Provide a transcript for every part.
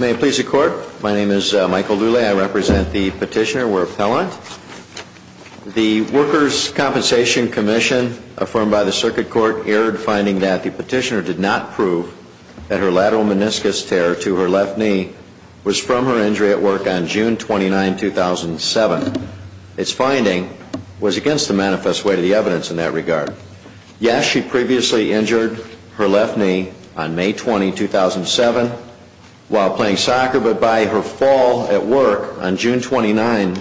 May it please the Court, my name is Michael Lulay. I represent the petitioner. We're appellant. The Workers' Compensation Commission, affirmed by the Circuit Court, erred finding that the petitioner did not prove that her lateral meniscus tear to her left knee was from her injury at work on June 29, 2007. Its finding was against the manifest way to the evidence in that regard. Yes, she previously injured her left knee on May 20, 2007 while playing soccer, but by her fall at work on June 29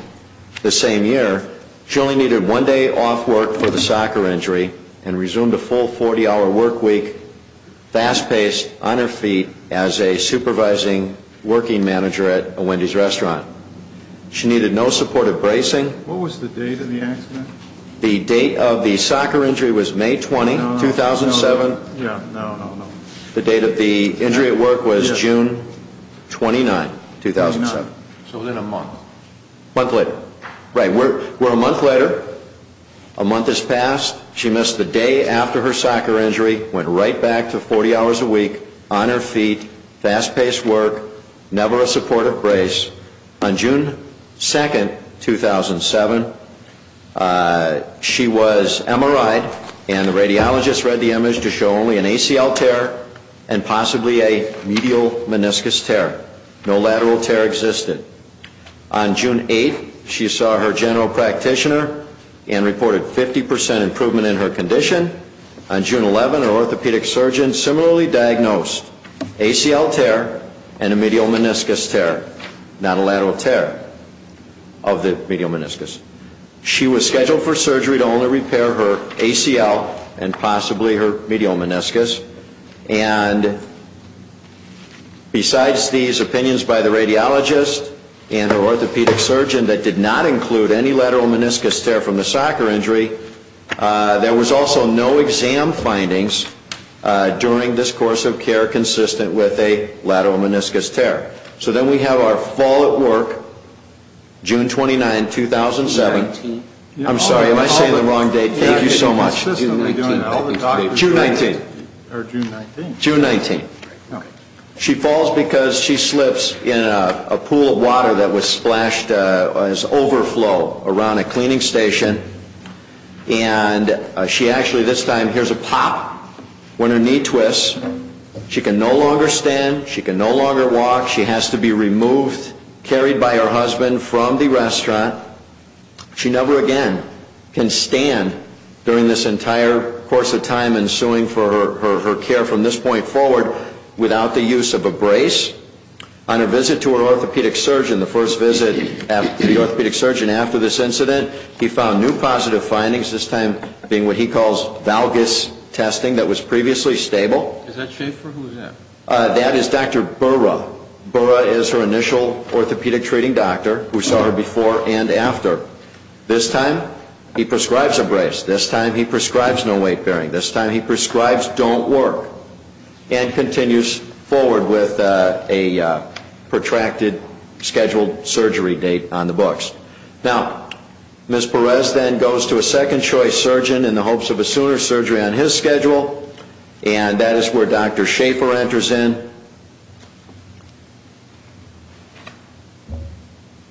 the same year, she only needed one day off work for the soccer injury and resumed a full 40-hour work week fast-paced on her feet as a supervising working manager at a Wendy's restaurant. She needed no supportive bracing. What was the date of the accident? The date of the soccer injury was May 20, 2007. The date of the injury at work was June 29, 2007. So then a month. Right, we're a month later. A month has passed. She missed the day after her soccer injury, went right back to 40 hours a week, on her feet, fast-paced work, never a supportive brace. On June 2, 2007, she was MRI'd and the radiologist read the image to show only an ACL tear and possibly a medial meniscus tear. No lateral tear existed. On June 8, she saw her general practitioner and reported 50% improvement in her condition. On June 11, her orthopedic surgeon similarly diagnosed ACL tear and a medial meniscus tear, not a lateral tear of the medial meniscus. She was scheduled for surgery to only repair her ACL and possibly her medial meniscus. And besides these opinions by the radiologist and her orthopedic surgeon that did not include any lateral meniscus tear from the soccer injury, there was also no exam findings during this course of care consistent with a lateral meniscus tear. So then we have our fall at work, June 29, 2007. I'm sorry, am I saying the wrong date? Thank you so much. June 19. June 19. She falls because she slips in a pool of water that was splashed as overflow around a cleaning station. And she actually this time hears a pop when her knee twists. She can no longer stand. She can no longer walk. She has to be removed, carried by her husband from the restaurant. She never again can stand during this entire course of time ensuing for her care from this point forward without the use of a brace. On her visit to her orthopedic surgeon, the first visit to the orthopedic surgeon after this incident, he found new positive findings, this time being what he calls valgus testing that was previously stable. That is Dr. Burra. Burra is her initial orthopedic treating doctor who saw her before and after. This time he prescribes a brace. This time he prescribes no weight bearing. This time he prescribes don't work and continues forward with a protracted scheduled surgery date on the books. Now, Ms. Perez then goes to a second choice surgeon in the hopes of a sooner surgery on his schedule. And that is where Dr. Schaefer enters in.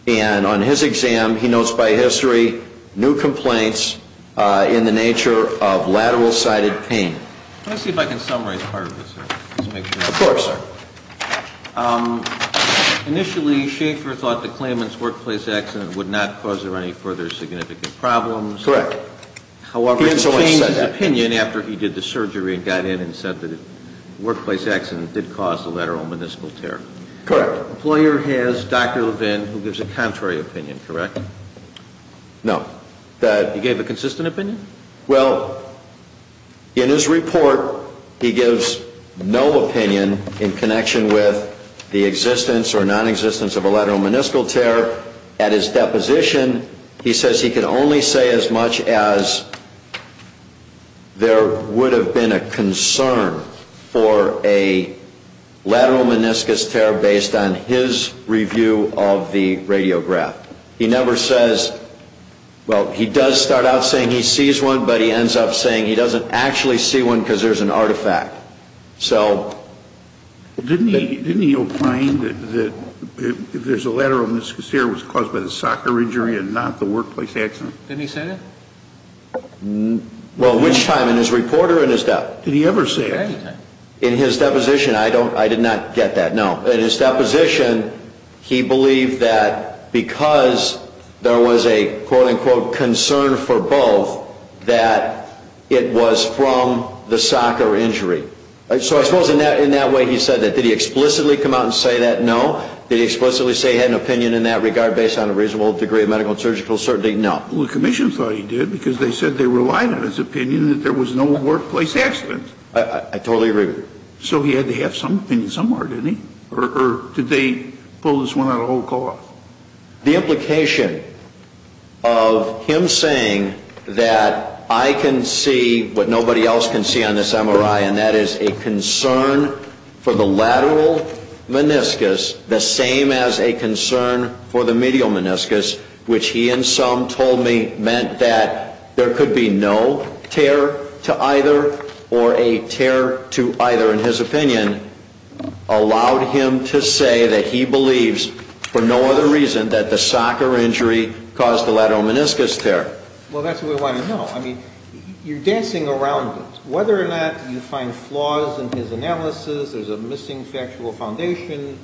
And on his exam, he notes by history new complaints in the nature of lateral sided pain. Let me see if I can summarize part of this. Of course. Initially, Schaefer thought the claimant's workplace accident would not cause her any further significant problems. Correct. However, he changed his opinion after he did the surgery and got in and said that the workplace accident did cause the lateral meniscal tear. Correct. The employer has Dr. Levin who gives a contrary opinion, correct? No. He gave a consistent opinion? Well, in his report, he gives no opinion in connection with the existence or nonexistence of a lateral meniscal tear. At his deposition, he says he can only say as much as there would have been a concern for a lateral meniscus tear based on his review of the radiograph. He never says, well, he does start out saying he sees one, but he ends up saying he doesn't actually see one because there's an artifact. Didn't he opine that if there's a lateral meniscus tear, it was caused by the soccer injury and not the workplace accident? Didn't he say that? Well, which time? In his report or in his dep? Did he ever say that? In his deposition, I did not get that. No. In his deposition, he believed that because there was a, quote, unquote, concern for both, that it was from the soccer injury. So I suppose in that way he said that. Did he explicitly come out and say that? No. Did he explicitly say he had an opinion in that regard based on a reasonable degree of medical and surgical certainty? No. Well, the commission thought he did because they said they relied on his opinion that there was no workplace accident. I totally agree with you. So he had to have some opinion somewhere, didn't he? Or did they pull this one out of the whole cloth? The implication of him saying that I can see what nobody else can see on this MRI, and that is a concern for the lateral meniscus the same as a concern for the medial meniscus, which he in sum told me meant that there could be no tear to either or a tear to either, in his opinion, allowed him to say that he believes for no other reason that the soccer injury caused the lateral meniscus tear. Well, that's what we want to know. I mean, you're dancing around it. So whether or not you find flaws in his analysis, there's a missing factual foundation,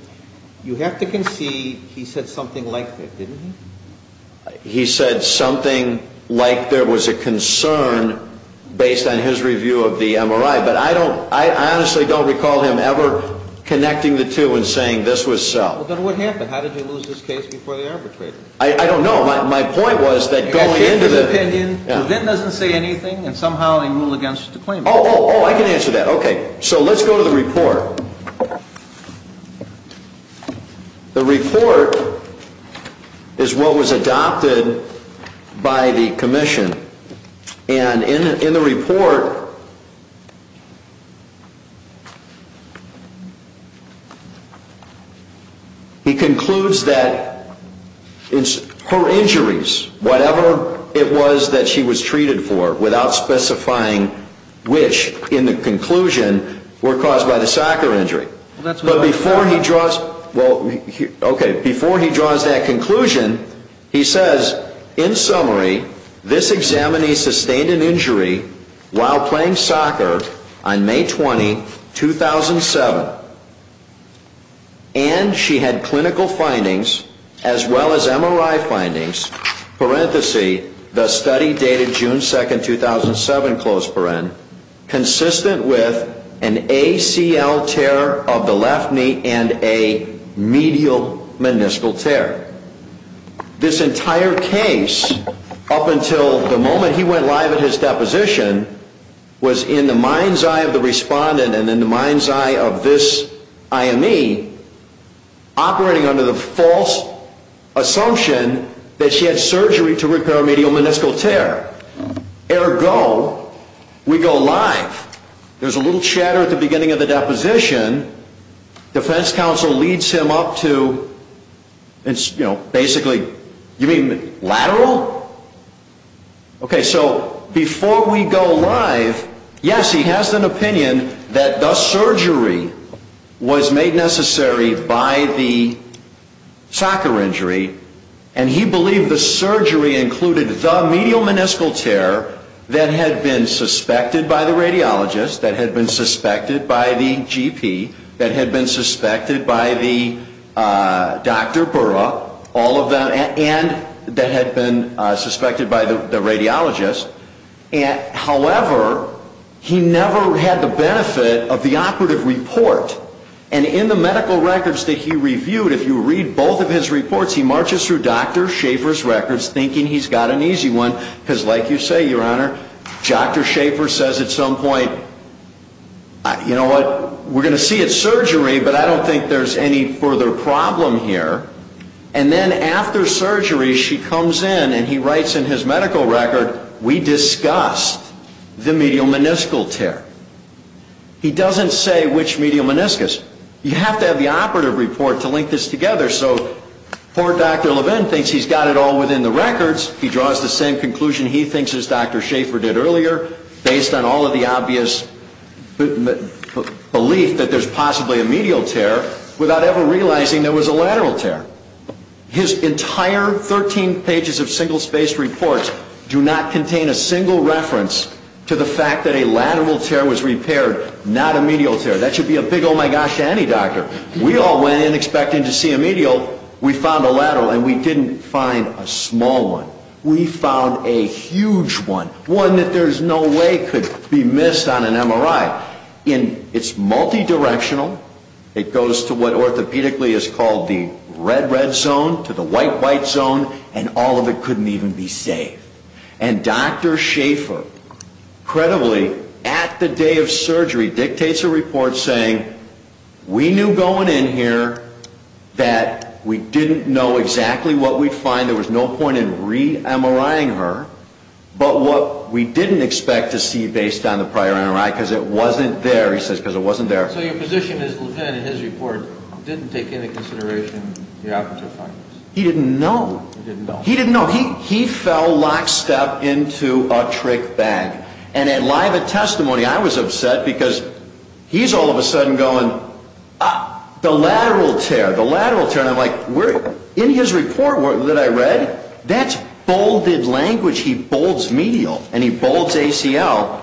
you have to concede he said something like that, didn't he? He said something like there was a concern based on his review of the MRI, but I don't – I honestly don't recall him ever connecting the two and saying this was so. Well, then what happened? How did he lose his case before they arbitrated? I don't know. My point was that going into the – Oh, oh, oh, I can answer that. Okay. So let's go to the report. The report is what was adopted by the commission, and in the report, he concludes that her injuries, whatever it was that she was treated for, without specifying which, in the conclusion, were caused by the soccer injury, but before he draws – okay, before he draws that conclusion, he says, in summary, this examinee sustained an injury while playing soccer on May 20, 2007, and she had clinical findings as well as MRI findings, parenthesis, the study dated June 2, 2007, close parenthesis, consistent with an ACL tear of the left knee and a medial meniscal tear. This entire case, up until the moment he went live at his deposition, was in the mind's eye of the respondent and in the mind's eye of this IME operating under the false assumption that she had surgery to repair a medial meniscal tear. Ergo, we go live, there's a little chatter at the beginning of the deposition, defense counsel leads him up to, you know, basically – you mean lateral? Okay, so before we go live, yes, he has an opinion that the surgery was made necessary by the soccer injury, and he believed the surgery included the medial meniscal tear that had been suspected by the radiologist, that had been suspected by the GP, that had been suspected by the Dr. Burra, all of them, and that had been suspected by the radiologist. However, he never had the benefit of the operative report, and in the medical records that he reviewed, if you read both of his reports, he marches through Dr. Schaefer's records thinking he's got an easy one, because like you say, Your Honor, Dr. Schaefer says at some point, you know what, we're going to see it's surgery, but I don't think there's any further problem here, and then after surgery she comes in and he writes in his medical record, we discussed the medial meniscal tear. He doesn't say which medial meniscus. You have to have the operative report to link this together, so poor Dr. Levin thinks he's got it all within the records, he draws the same conclusion he thinks as Dr. Schaefer did earlier, based on all of the obvious belief that there's possibly a medial tear, without ever realizing there was a lateral tear. His entire 13 pages of single spaced reports do not contain a single reference to the fact that a lateral tear was repaired, not a medial tear. That should be a big oh my gosh to any doctor. We all went in expecting to see a medial, we found a lateral and we didn't find a small one. We found a huge one, one that there's no way could be missed on an MRI. It's multidirectional, it goes to what orthopedically is called the red red zone, to the white white zone, and all of it couldn't even be saved. And Dr. Schaefer, credibly, at the day of surgery dictates a report saying, we knew going in here that we didn't know exactly what we'd find, there was no point in re-MRIing her, but what we didn't expect to see based on the prior MRI, because it wasn't there, he says, because it wasn't there. So your position is Levin, in his report, didn't take into consideration the operative findings? He didn't know. He didn't know. He didn't know. He fell lock step into a trick bag. And in live testimony I was upset because he's all of a sudden going, ah, the lateral tear, the lateral tear. And I'm like, in his report that I read, that's bolded language. He bolds medial, and he bolds ACL,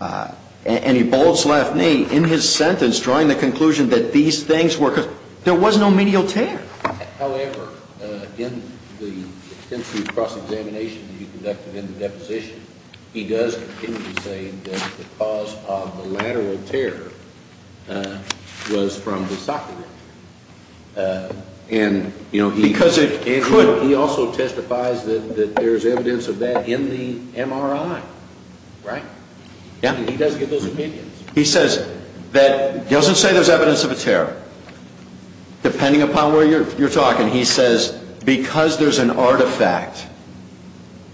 and he bolds left knee in his sentence drawing the conclusion that these things were, there was no medial tear. However, in the extensive cross-examination that you conducted in the deposition, he does continue to say that the cause of the lateral tear was from the socket wound. And, you know, he also testifies that there's evidence of that in the MRI, right? Yeah. And he does give those opinions. He says that, doesn't say there's evidence of a tear, depending upon where you're talking. He says, because there's an artifact,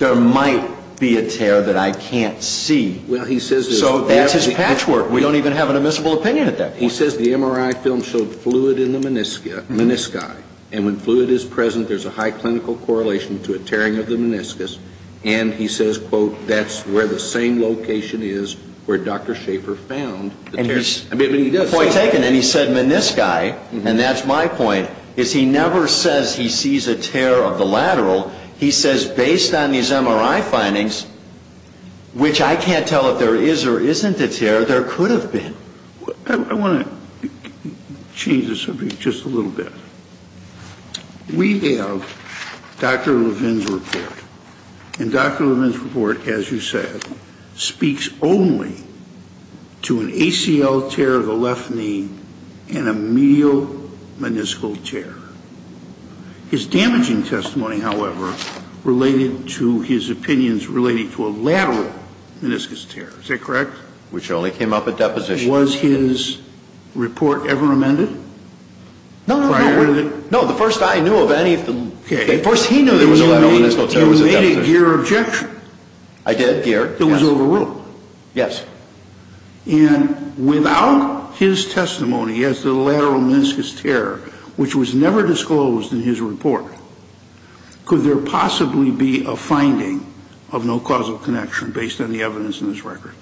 there might be a tear that I can't see. Well, he says there's evidence. So that's his patchwork. We don't even have an admissible opinion at that point. He says the MRI film showed fluid in the menisci, and when fluid is present, there's a high clinical correlation to a tearing of the meniscus. And he says, quote, that's where the same location is where Dr. Schaefer found the tear. Point taken. And he said menisci, and that's my point, is he never says he sees a tear of the lateral. He says, based on these MRI findings, which I can't tell if there is or isn't a tear, there could have been. I want to change the subject just a little bit. We have Dr. Levin's report. And Dr. Levin's report, as you said, speaks only to an ACL tear of the left knee and a medial meniscal tear. His damaging testimony, however, related to his opinions relating to a lateral meniscus tear. Is that correct? Which only came up at deposition. Was his report ever amended? No, no, no. No, the first I knew of any of the... The first he knew there was a lateral meniscal tear was at deposition. You made a GEER objection. I did, GEER, yes. It was overruled. Yes. And without his testimony as to the lateral meniscus tear, which was never disclosed in his report, could there possibly be a finding of no causal connection based on the evidence in this record?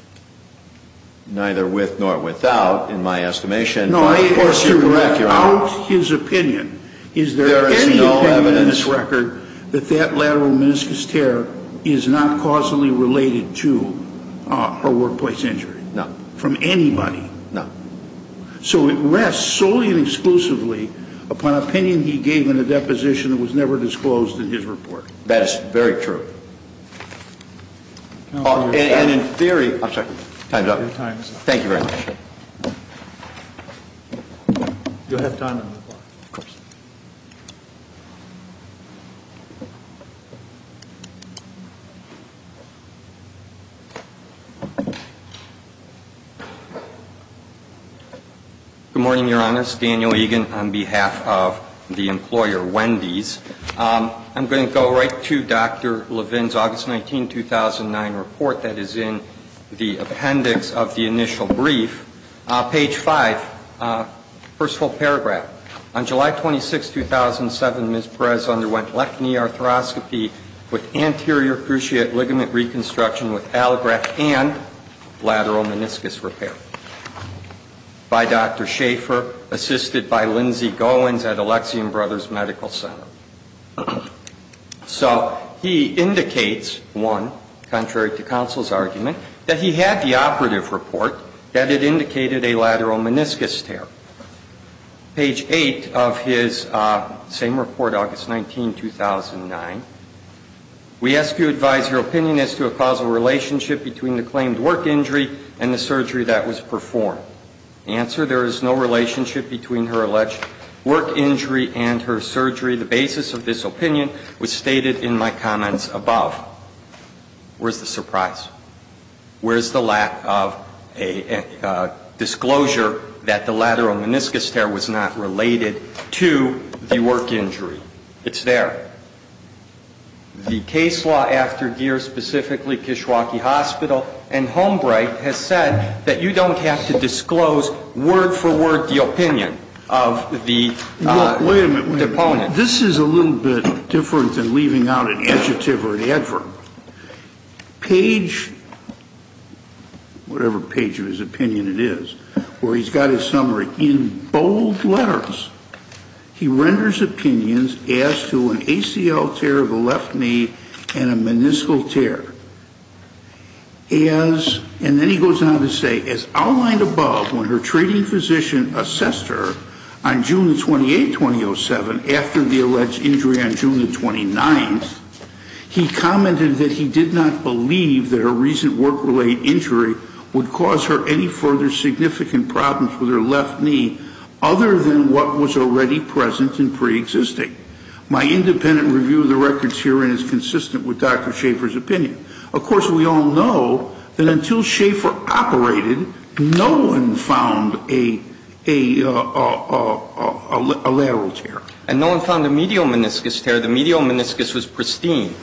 Neither with nor without, in my estimation. No, of course you're correct, Your Honor. Without his opinion, is there any opinion in this record that that lateral meniscus tear is not causally related to her workplace injury? No. From anybody? No. So it rests solely and exclusively upon opinion he gave in a deposition that was never disclosed in his report. That is very true. And in theory... I'm sorry, time's up. Your time is up. Thank you very much. You'll have time on the floor. Of course. Good morning, Your Honors. Daniel Egan on behalf of the employer Wendy's. I'm going to go right to Dr. Levin's August 19, 2009 report that is in the appendix of the initial brief. Page 5, first full paragraph. So he indicates, one, contrary to counsel's argument, that he had the operative report that it indicated a lateral meniscus tear. Page 8 of his same report, August 19, 2009. We ask you to advise your opinion as to a causal relationship between the claimed work injury and the surgery that was performed. The answer, there is no relationship between her alleged work injury and her surgery. The basis of this opinion was stated in my comments above. Where's the surprise? Where's the lack of a disclosure that the lateral meniscus tear was not related to the work injury? It's there. The case law after Geer, specifically Kishwaukee Hospital and Homebright, has said that you don't have to disclose word for word the opinion of the opponent. Wait a minute. This is a little bit different than leaving out an adjective or an adverb. Page, whatever page of his opinion it is, where he's got his summary in bold letters. He renders opinions as to an ACL tear of the left knee and a meniscal tear. And then he goes on to say, as outlined above, when her treating physician assessed her on June 28, 2007, after the alleged injury on June 29th, he commented that he did not believe that a recent work-related injury would cause her any further significant problems with her left knee, other than what was already present and preexisting. My independent review of the records herein is consistent with Dr. Schaffer's opinion. Of course, we all know that until Schaffer operated, no one found a lateral tear. And no one found a medial meniscus tear. The medial meniscus was pristine.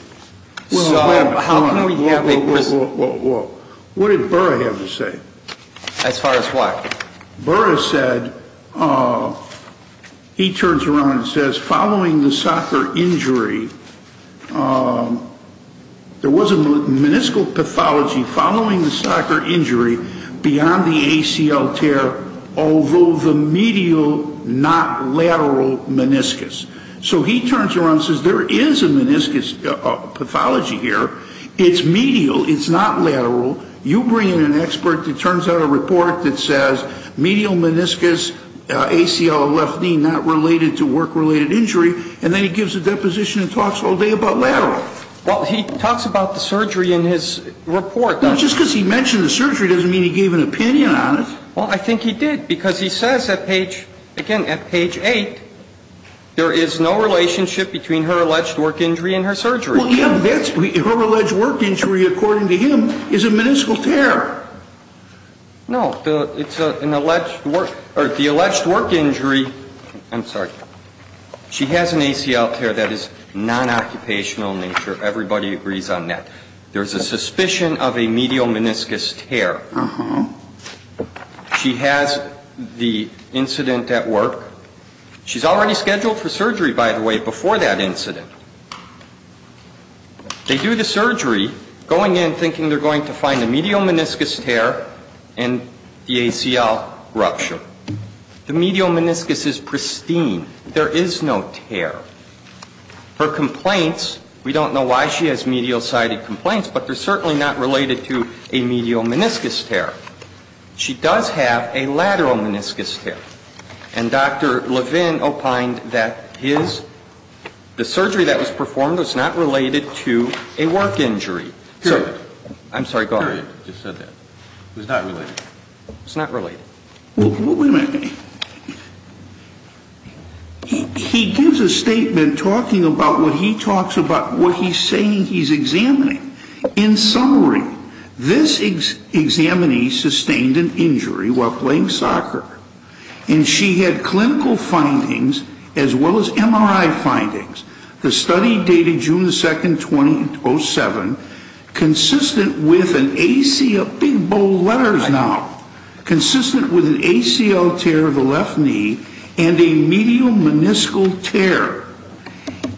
So how can we have a pristine? Whoa, whoa, whoa. What did Burra have to say? As far as what? Burra said, he turns around and says, following the soccer injury, there was a meniscal pathology following the soccer injury beyond the ACL tear, although the medial, not lateral, meniscus. So he turns around and says, there is a meniscus pathology here. It's medial. It's not lateral. You bring in an expert that turns out a report that says medial meniscus, ACL, left knee not related to work-related injury, and then he gives a deposition and talks all day about lateral. Well, he talks about the surgery in his report. Just because he mentioned the surgery doesn't mean he gave an opinion on it. Well, I think he did because he says, again, at page 8, there is no relationship between her alleged work injury and her surgery. Well, her alleged work injury, according to him, is a meniscal tear. No. It's an alleged work or the alleged work injury. I'm sorry. She has an ACL tear that is non-occupational in nature. Everybody agrees on that. There is a suspicion of a medial meniscus tear. She has the incident at work. She's already scheduled for surgery, by the way, before that incident. They do the surgery, going in thinking they're going to find a medial meniscus tear and the ACL rupture. The medial meniscus is pristine. There is no tear. Her complaints, we don't know why she has medial-sided complaints, but they're certainly not related to a medial meniscus tear. She does have a lateral meniscus tear. And Dr. Levin opined that his, the surgery that was performed was not related to a work injury. Period. I'm sorry, go ahead. Period. He just said that. It was not related. It's not related. Wait a minute. He gives a statement talking about what he talks about, what he's saying he's examining. In summary, this examinee sustained an injury while playing soccer. And she had clinical findings as well as MRI findings. The study dated June 2nd, 2007, consistent with an ACL, big bold letters now, consistent with an ACL tear of the left knee and a medial meniscal tear,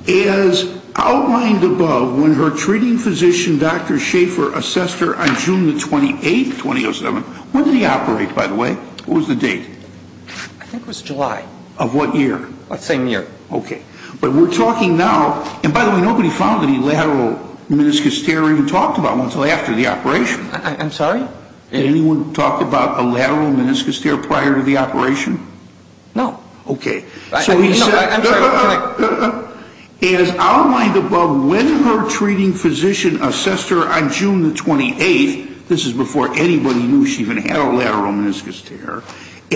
as outlined above when her treating physician, Dr. Schaefer, assessed her on June 28th, 2007. When did he operate, by the way? What was the date? I think it was July. Of what year? Same year. Okay. But we're talking now, and by the way, nobody found any lateral meniscus tear even talked about until after the operation. I'm sorry? Did anyone talk about a lateral meniscus tear prior to the operation? No. Okay. I'm sorry. As outlined above, when her treating physician assessed her on June 28th, this is before anybody knew she even had a lateral meniscus tear,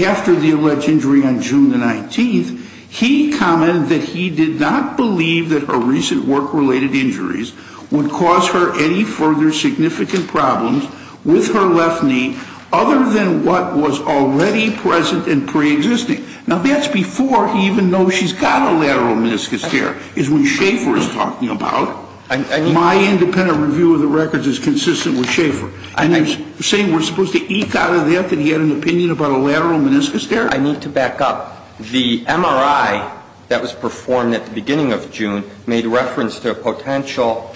after the alleged injury on June the 19th, he commented that he did not believe that her recent work-related injuries would cause her any further significant problems with her left knee other than what was already present and preexisting. Now, that's before he even knows she's got a lateral meniscus tear, is what Schaefer is talking about. My independent review of the records is consistent with Schaefer. And you're saying we're supposed to eke out of that that he had an opinion about a lateral meniscus tear? I need to back up. The MRI that was performed at the beginning of June made reference to a potential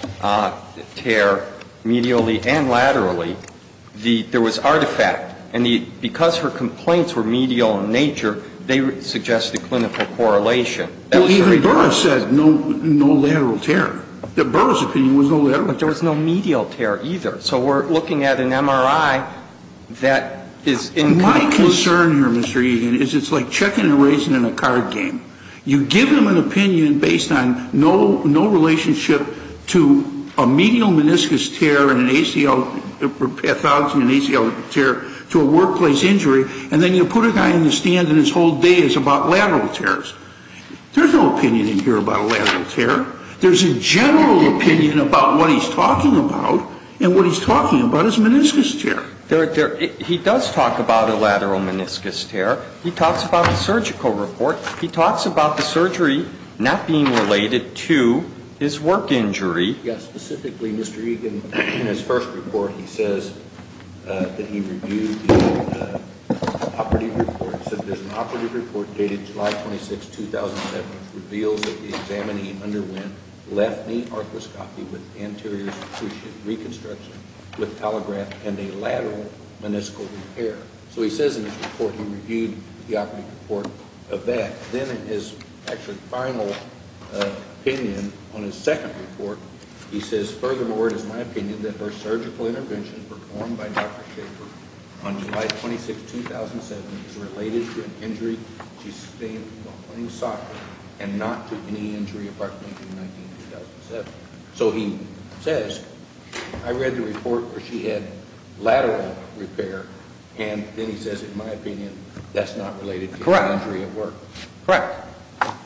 tear medially and laterally. There was artifact. And because her complaints were medial in nature, they suggest a clinical correlation. Even Burra said no lateral tear. Burra's opinion was no lateral tear. But there was no medial tear either. So we're looking at an MRI that is in clinical. My concern here, Mr. Egan, is it's like checking and erasing in a card game. You give them an opinion based on no relationship to a medial meniscus tear and an ACL pathology and an ACL tear to a workplace injury, and then you put a guy in the stand and his whole day is about lateral tears. There's no opinion in here about a lateral tear. There's a general opinion about what he's talking about. And what he's talking about is a meniscus tear. He does talk about a lateral meniscus tear. He talks about a surgical report. He talks about the surgery not being related to his work injury. Yes. Specifically, Mr. Egan, in his first report, he says that he reviewed the operative report. He said that there's an operative report dated July 26, 2007, which reveals that the examinee underwent left knee arthroscopy with anterior cruciate reconstruction with telegraph and a lateral meniscal repair. So he says in his report he reviewed the operative report of that. Then in his actual final opinion on his second report, he says, furthermore, it is my opinion that her surgical intervention performed by Dr. Schaefer on July 26, 2007, is related to an injury she sustained while playing soccer and not to any injury apart from 19, 2007. So he says, I read the report where she had lateral repair, and then he says, in my opinion, that's not related to the injury at work. Correct. Correct.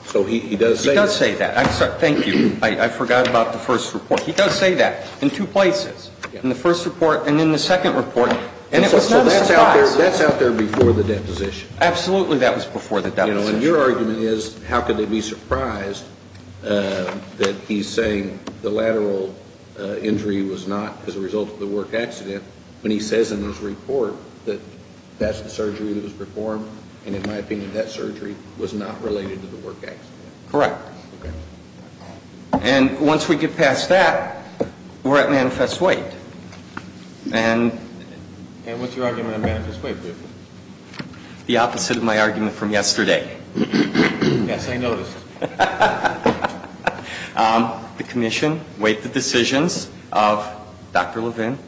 So he does say that. He does say that. Thank you. I forgot about the first report. He does say that in two places, in the first report and in the second report. And it was not a surprise. So that's out there before the deposition. Absolutely, that was before the deposition. You know, and your argument is how could they be surprised that he's saying the lateral injury was not as a result of the work accident when he says in his report that that's the surgery that was performed, and in my opinion, that surgery was not related to the work accident. Correct. Okay. And once we get past that, we're at manifest weight. And what's your argument on manifest weight? The opposite of my argument from yesterday. Yes, I noticed. The commission weighed the decisions of Dr. Levin,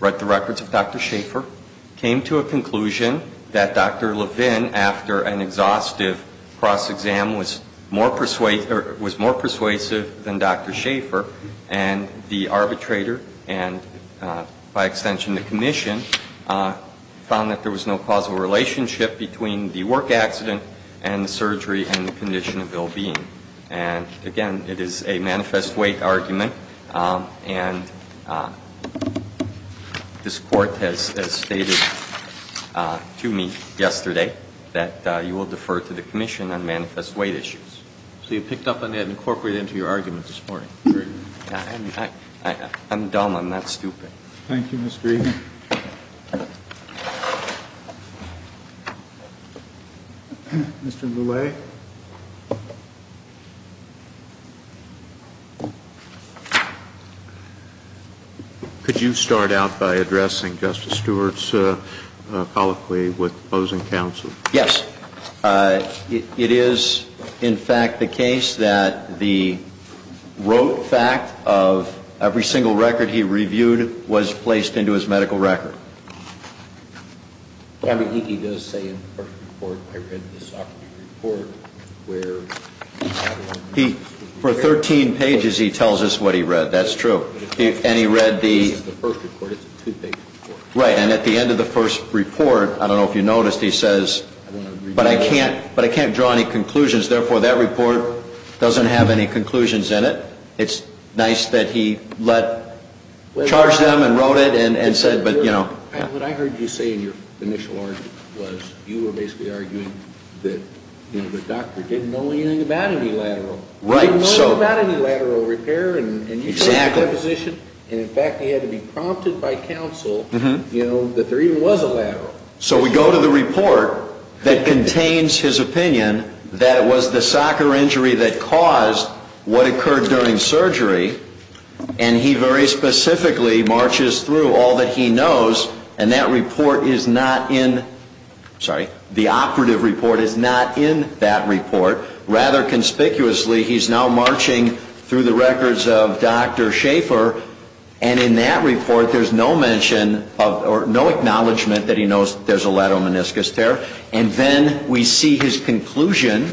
read the records of Dr. Schaefer, came to a conclusion that Dr. Levin, after an exhaustive cross-exam, was more persuasive than Dr. Schaefer. And the arbitrator and, by extension, the commission found that there was no causal relationship between the work accident and the surgery and the condition of ill-being. And, again, it is a manifest weight argument. And this Court has stated to me yesterday that you will defer to the commission on manifest weight issues. So you picked up on that and incorporated it into your argument this morning. I'm dumb. I'm not stupid. Thank you, Mr. Egan. Mr. Lele? Could you start out by addressing Justice Stewart's colloquy with opposing counsel? Yes. It is, in fact, the case that the rote fact of every single record he reviewed was placed into his medical record. I mean, he does say in the first report, I read the Socrates report, where... For 13 pages, he tells us what he read. That's true. And he read the... This is the first report. It's a two-page report. Right. And at the end of the first report, I don't know if you noticed, he says, but I can't draw any conclusions. Therefore, that report doesn't have any conclusions in it. It's nice that he charged them and wrote it and said, but, you know... What I heard you say in your initial argument was you were basically arguing that the doctor didn't know anything about any lateral. Right. He didn't know anything about any lateral repair. Exactly. And in fact, he had to be prompted by counsel, you know, that there even was a lateral. So we go to the report that contains his opinion that was the soccer injury that caused what occurred during surgery, and he very specifically marches through all that he knows, and that report is not in... Sorry. The operative report is not in that report. Rather conspicuously, he's now marching through the records of Dr. Schaefer, and in that report, there's no mention of... Or no acknowledgment that he knows that there's a lateral meniscus tear. And then we see his conclusion,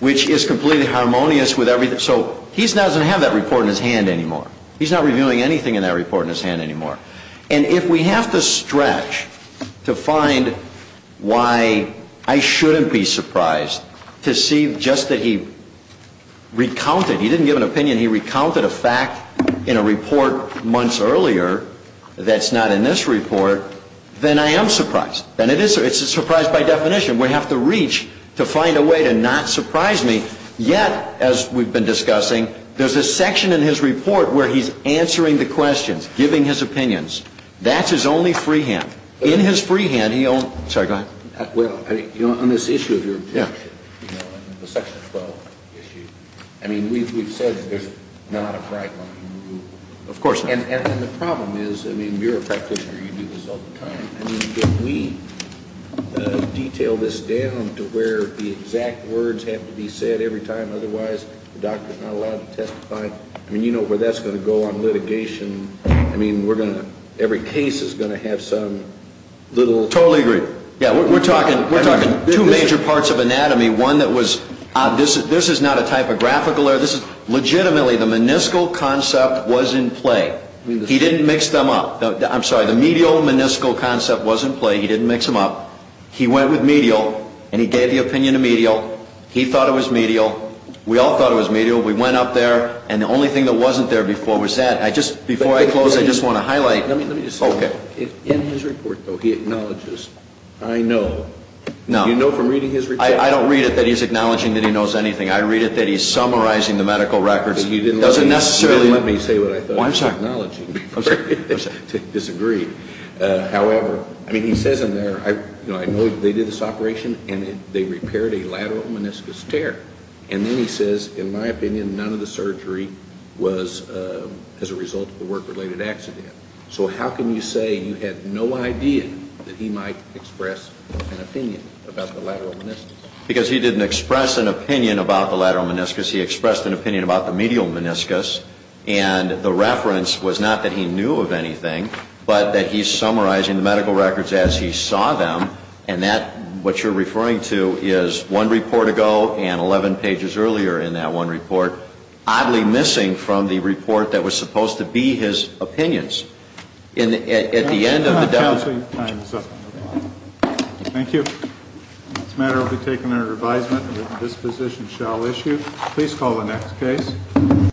which is completely harmonious with everything. So he doesn't have that report in his hand anymore. He's not reviewing anything in that report in his hand anymore. And if we have to stretch to find why I shouldn't be surprised to see just that he recounted... He didn't give an opinion. He recounted a fact in a report months earlier that's not in this report, then I am surprised. And it's a surprise by definition. We have to reach to find a way to not surprise me. Yet, as we've been discussing, there's a section in his report where he's answering the questions, giving his opinions. That's his only free hand. In his free hand, he only... Sorry, go ahead. Well, on this issue of your objection, the Section 12 issue, I mean, we've said there's not a bright line. Of course. And the problem is, I mean, you're a practitioner. You do this all the time. I mean, can we detail this down to where the exact words have to be said every time? Otherwise, the doctor's not allowed to testify. I mean, you know where that's going to go on litigation. I mean, we're going to... Every case is going to have some little... Totally agree. Yeah, we're talking two major parts of anatomy. One that was... This is not a typographical error. Legitimately, the meniscal concept was in play. He didn't mix them up. I'm sorry. The medial meniscal concept was in play. He didn't mix them up. He went with medial, and he gave the opinion to medial. He thought it was medial. We all thought it was medial. We went up there, and the only thing that wasn't there before was that. I just... Before I close, I just want to highlight... Let me just say... Okay. In his report, though, he acknowledges. I know. No. Do you know from reading his report? I don't read it that he's acknowledging that he knows anything. I read it that he's summarizing the medical records. He doesn't necessarily... Disagree. However, I mean, he says in there, I know they did this operation, and they repaired a lateral meniscus tear. And then he says, In my opinion, none of the surgery was as a result of a work-related accident. So how can you say you had no idea that he might express an opinion about the lateral meniscus? Because he didn't express an opinion about the lateral meniscus. He expressed an opinion about the medial meniscus. And the reference was not that he knew of anything, but that he's summarizing the medical records as he saw them. And that, what you're referring to, is one report ago and 11 pages earlier in that one report, oddly missing from the report that was supposed to be his opinions. At the end of the... Counsel, your time is up. Thank you. This matter will be taken under revisement. This position shall issue. Please call the next case.